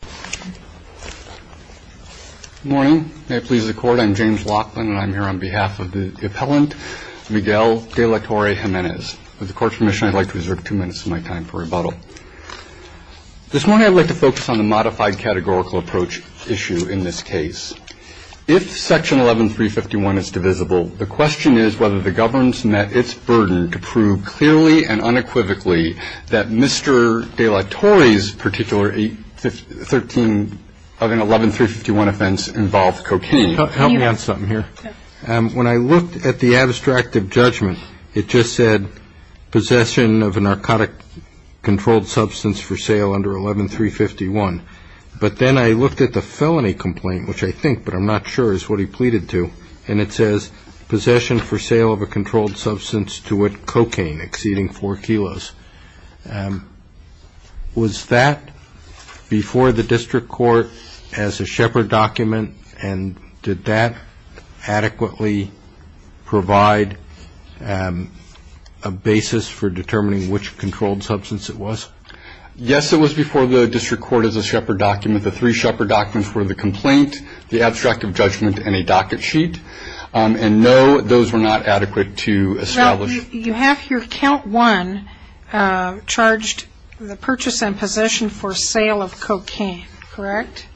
Good morning. May it please the Court, I'm James Laughlin and I'm here on behalf of the appellant Miguel De La Torre-Jimenez. With the Court's permission, I'd like to reserve two minutes of my time for rebuttal. This morning I'd like to focus on the modified categorical approach issue in this case. If Section 11351 is divisible, the question is whether the government's met its burden to of an 11351 offense involved cocaine. Can you help me on something here? When I looked at the abstract of judgment, it just said possession of a narcotic controlled substance for sale under 11351. But then I looked at the felony complaint, which I think but I'm not sure is what he pleaded to, and it says possession for sale of a controlled substance to with cocaine exceeding 4 kilos. Was that before the district court as a Shepard document and did that adequately provide a basis for determining which controlled substance it was? Yes, it was before the district court as a Shepard document. The three Shepard documents were the complaint, the abstract of judgment, and a docket sheet. And no, those were not adequate to establish. You have here count one charged the purchase and possession for sale of cocaine, correct?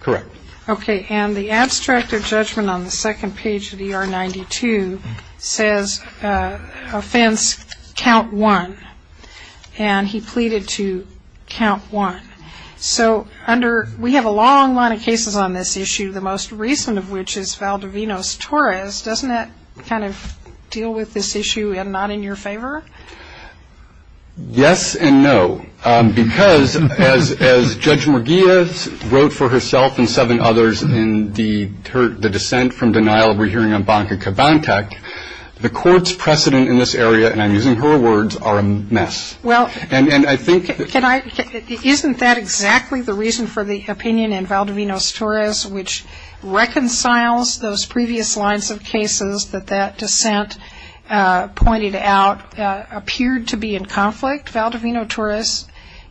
Correct. Okay. And the abstract of judgment on the second page of ER 92 says offense count one. And he pleaded to count one. So under, we have a long line of cases on this issue, the most recent of which is Valdovinos-Torres. Doesn't that kind of deal with this issue and not in your favor? Yes and no. Because as Judge Morgillas wrote for herself and seven others in the dissent from denial we're hearing on Banca Cabantec, the court's precedent in this area, and I'm using her words, are a mess. Well, isn't that exactly the reason for the opinion in Valdovinos-Torres which reconciles those previous lines of cases that that dissent pointed out appeared to be in conflict? Valdovinos-Torres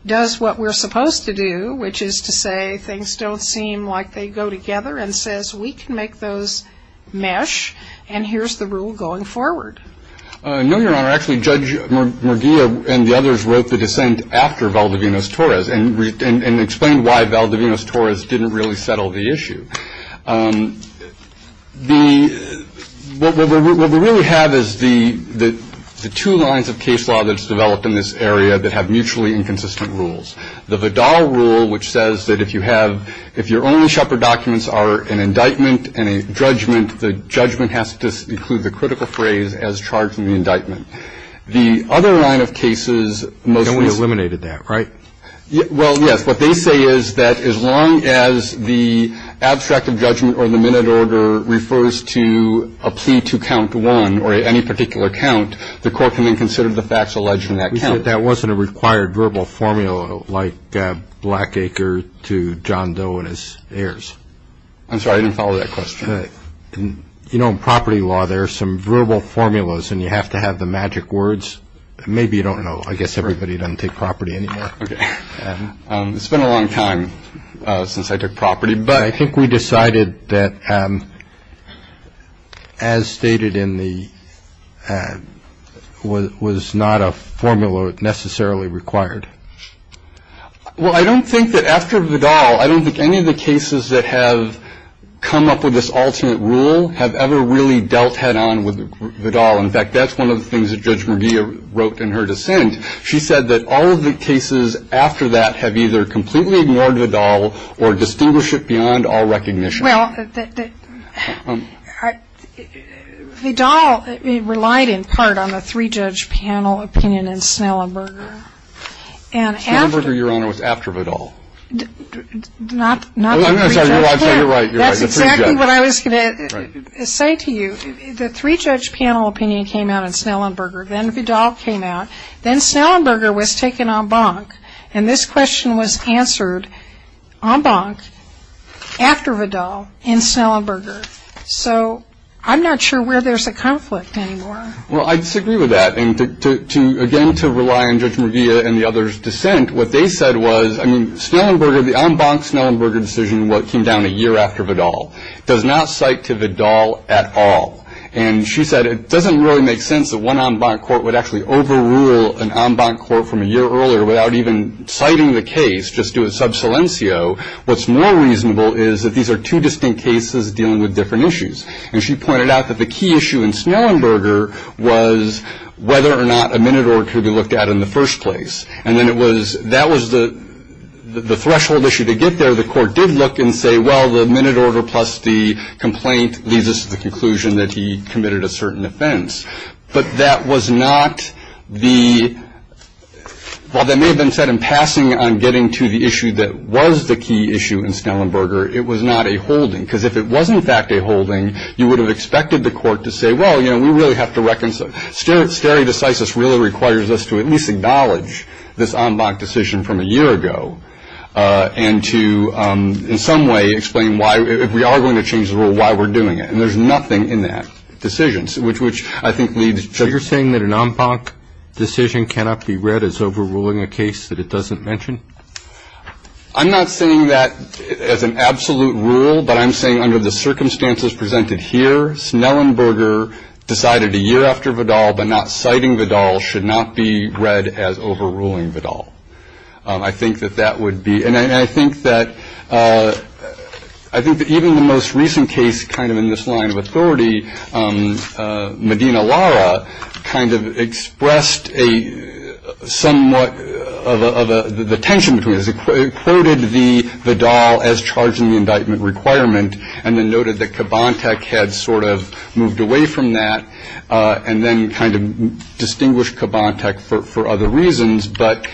does what we're supposed to do, which is to say things don't seem like they go together and says we can make those mesh and here's the rule going forward. No, Your Honor. Actually, Judge Morgillas and the others wrote the dissent after Valdovinos-Torres and explained why Valdovinos-Torres didn't really settle the issue. What we really have is the two lines of case law that's developed in this area that have mutually inconsistent rules. The Vidal rule which says that if you have, if your only Shepard documents are an indictment and a judgment, the judgment has to include the critical phrase as charged in the indictment. The other line of cases mostly No one eliminated that, right? Well, yes. What they say is that as long as the abstract of judgment or the minute order refers to a plea to count one or any particular count, the court can then consider the facts alleged in that count. But that wasn't a required verbal formula like Blackacre to John Doe and his heirs. I'm sorry, I didn't follow that question. You know, in property law, there are some verbal formulas and you have to have the magic words. Maybe you don't know. I guess everybody doesn't take property anymore. It's been a long time since I took property, but I think we decided that as stated in the was not a formula necessarily required. Well, I don't think that after Vidal, I don't think any of the cases that have come up with this ultimate rule have ever really dealt head on with Vidal. In fact, that's one of the things that Judge Mugia wrote in her dissent. She said that all of the cases after that have either completely ignored Vidal or distinguish it beyond all recognition. Well, Vidal relied in part on a three-judge panel opinion in Snellenberger. Snellenberger, Your Honor, was after Vidal. Not the three-judge panel. I'm sorry, you're right. That's exactly what I was going to say to you. The three-judge panel opinion came out in Snellenberger. Then Vidal came out. Then Snellenberger was taken en banc. And this question was answered en banc after Vidal in Snellenberger. So I'm not sure where there's a conflict anymore. Well, I disagree with that. And again, to rely on Judge Mugia and the other's dissent, what they said was, I mean, Snellenberger, the en banc Snellenberger decision came down a year after Vidal, does not cite to Vidal at all. And she said it doesn't really make sense that one en banc court would actually overrule an en banc court from a year earlier without even citing the case, just do a sub silencio. What's more reasonable is that these are two distinct cases dealing with different issues. And she pointed out that the key issue in Snellenberger was whether or not a minute order could be looked at in the first place. And then it was, that was the threshold issue to get there. The court did look and say, well, the minute order plus the complaint leads us to the conclusion that he committed a certain offense. But that was not the, while that may have been set in passing on getting to the issue that was the key issue in Snellenberger, it was not a holding. Because if it was in fact a holding, you would have expected the court to say, well, you know, we really have to, stare decisis really requires us to at least acknowledge this en banc decision from a year ago. And to in some way explain why, if we are going to change the rule, why we're doing it. And there's nothing in that decision, which I think leads to. So you're saying that an en banc decision cannot be read as overruling a case that it doesn't mention? I'm not saying that as an absolute rule, but I'm saying under the circumstances presented here, Snellenberger decided a year after Vidal, but not citing Vidal, should not be read as overruling Vidal. I think that that would be, and I think that, I think that even the most recent case, kind of in this line of authority, Medina Lara, kind of expressed a somewhat of a, the tension between this. It quoted the Vidal as charging the indictment requirement, and then noted that Kabantech had sort of moved away from that. And then kind of distinguished Kabantech for other reasons. But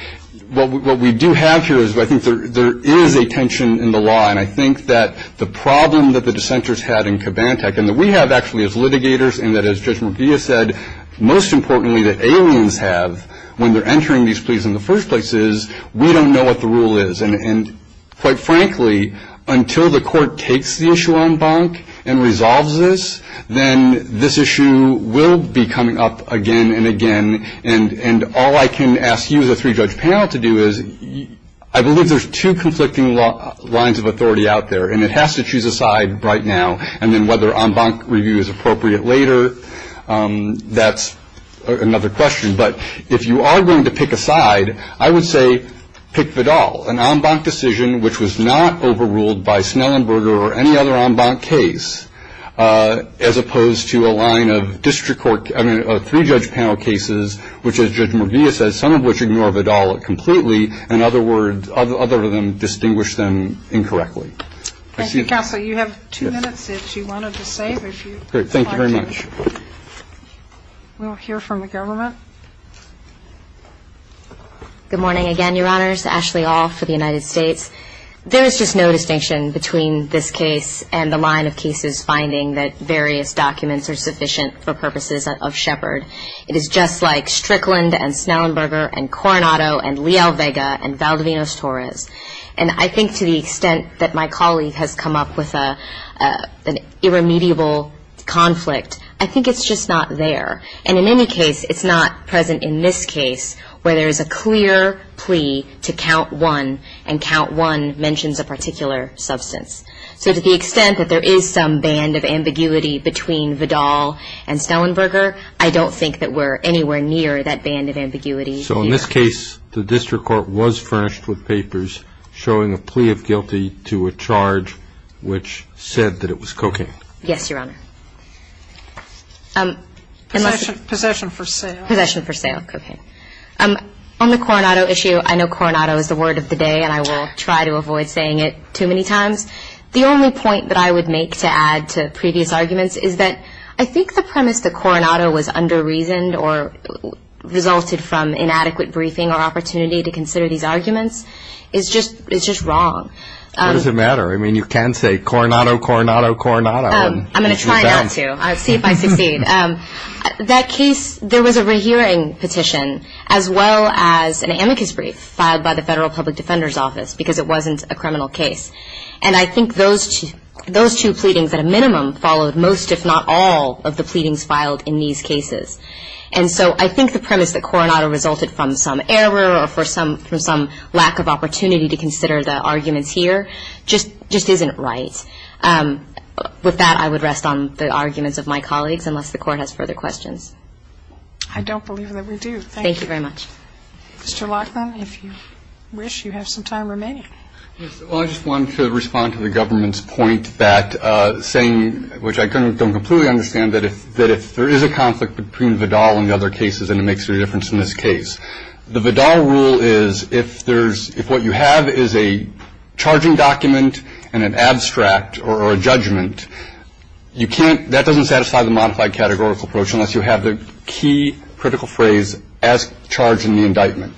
what we do have here is, I think there is a tension in the law. And I think that the problem that the dissenters had in Kabantech, and that we have actually as litigators, and that as Judge McGee has said, most importantly that aliens have, when they're entering these pleas in the first place is, we don't know what the rule is. And quite frankly, until the court takes the issue en banc and resolves this, then this issue will be coming up again and again. And all I can ask you as a three-judge panel to do is, I believe there's two conflicting lines of authority out there, and it has to choose a side right now. And then whether en banc review is appropriate later, that's another question. But if you are going to pick a side, I would say pick Vidal, an en banc decision which was not overruled by Snellenberger or any other en banc case, as opposed to a line of three-judge panel cases, which as Judge McGee has said, some of which ignore Vidal completely, and other of them distinguish them incorrectly. Thank you, Counsel. You have two minutes if you wanted to say if you'd like to. Thank you very much. We'll hear from the government. Good morning again, Your Honors. Ashley All for the United States. There is just no distinction between this case and the line of cases finding that various documents are sufficient for purposes of Shepard. It is just like Strickland and Snellenberger and Coronado and Leal Vega and Valdivinos Torres. And I think to the extent that my colleague has come up with an irremediable conflict, I think it's just not there. And in any case, it's not present in this case where there is a clear plea to count one and count one mentions a particular substance. So to the extent that there is some band of ambiguity between Vidal and Snellenberger, I don't think that we're anywhere near that band of ambiguity here. In this case, the district court was furnished with papers showing a plea of guilty to a charge which said that it was cocaine. Yes, Your Honor. Possession for sale. Possession for sale of cocaine. On the Coronado issue, I know Coronado is the word of the day, and I will try to avoid saying it too many times. The only point that I would make to add to previous arguments is that I think the premise that Coronado was under-reasoned or resulted from inadequate briefing or opportunity to consider these arguments is just wrong. What does it matter? I mean, you can say Coronado, Coronado, Coronado. I'm going to try not to. I'll see if I succeed. That case, there was a rehearing petition as well as an amicus brief filed by the Federal Public Defender's Office because it wasn't a criminal case. And I think those two pleadings at a minimum followed most, if not all, of the pleadings filed in these cases. And so I think the premise that Coronado resulted from some error or from some lack of opportunity to consider the arguments here just isn't right. With that, I would rest on the arguments of my colleagues, unless the Court has further questions. I don't believe that we do. Thank you. Thank you very much. Mr. Lachlan, if you wish, you have some time remaining. Yes. Well, I just wanted to respond to the government's point that saying, which I don't completely understand, that if there is a conflict between Vidal and the other cases, then it makes a difference in this case. The Vidal rule is if there's – if what you have is a charging document and an abstract or a judgment, you can't – that doesn't satisfy the modified categorical approach unless you have the key critical phrase, as charged in the indictment.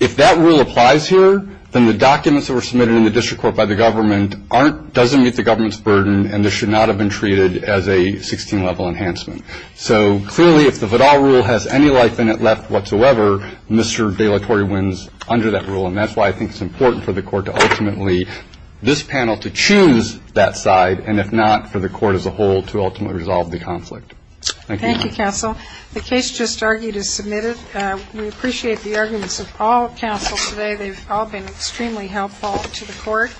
If that rule applies here, then the documents that were submitted in the district court by the government aren't – doesn't meet the government's burden, and this should not have been treated as a 16-level enhancement. So clearly, if the Vidal rule has any life in it left whatsoever, Mr. De La Torre wins under that rule, and that's why I think it's important for the Court to ultimately – this panel to choose that side, and if not, for the Court as a whole to ultimately resolve the conflict. Thank you. Thank you, counsel. The case just argued is submitted. We appreciate the arguments of all counsel today. They've all been extremely helpful to the Court.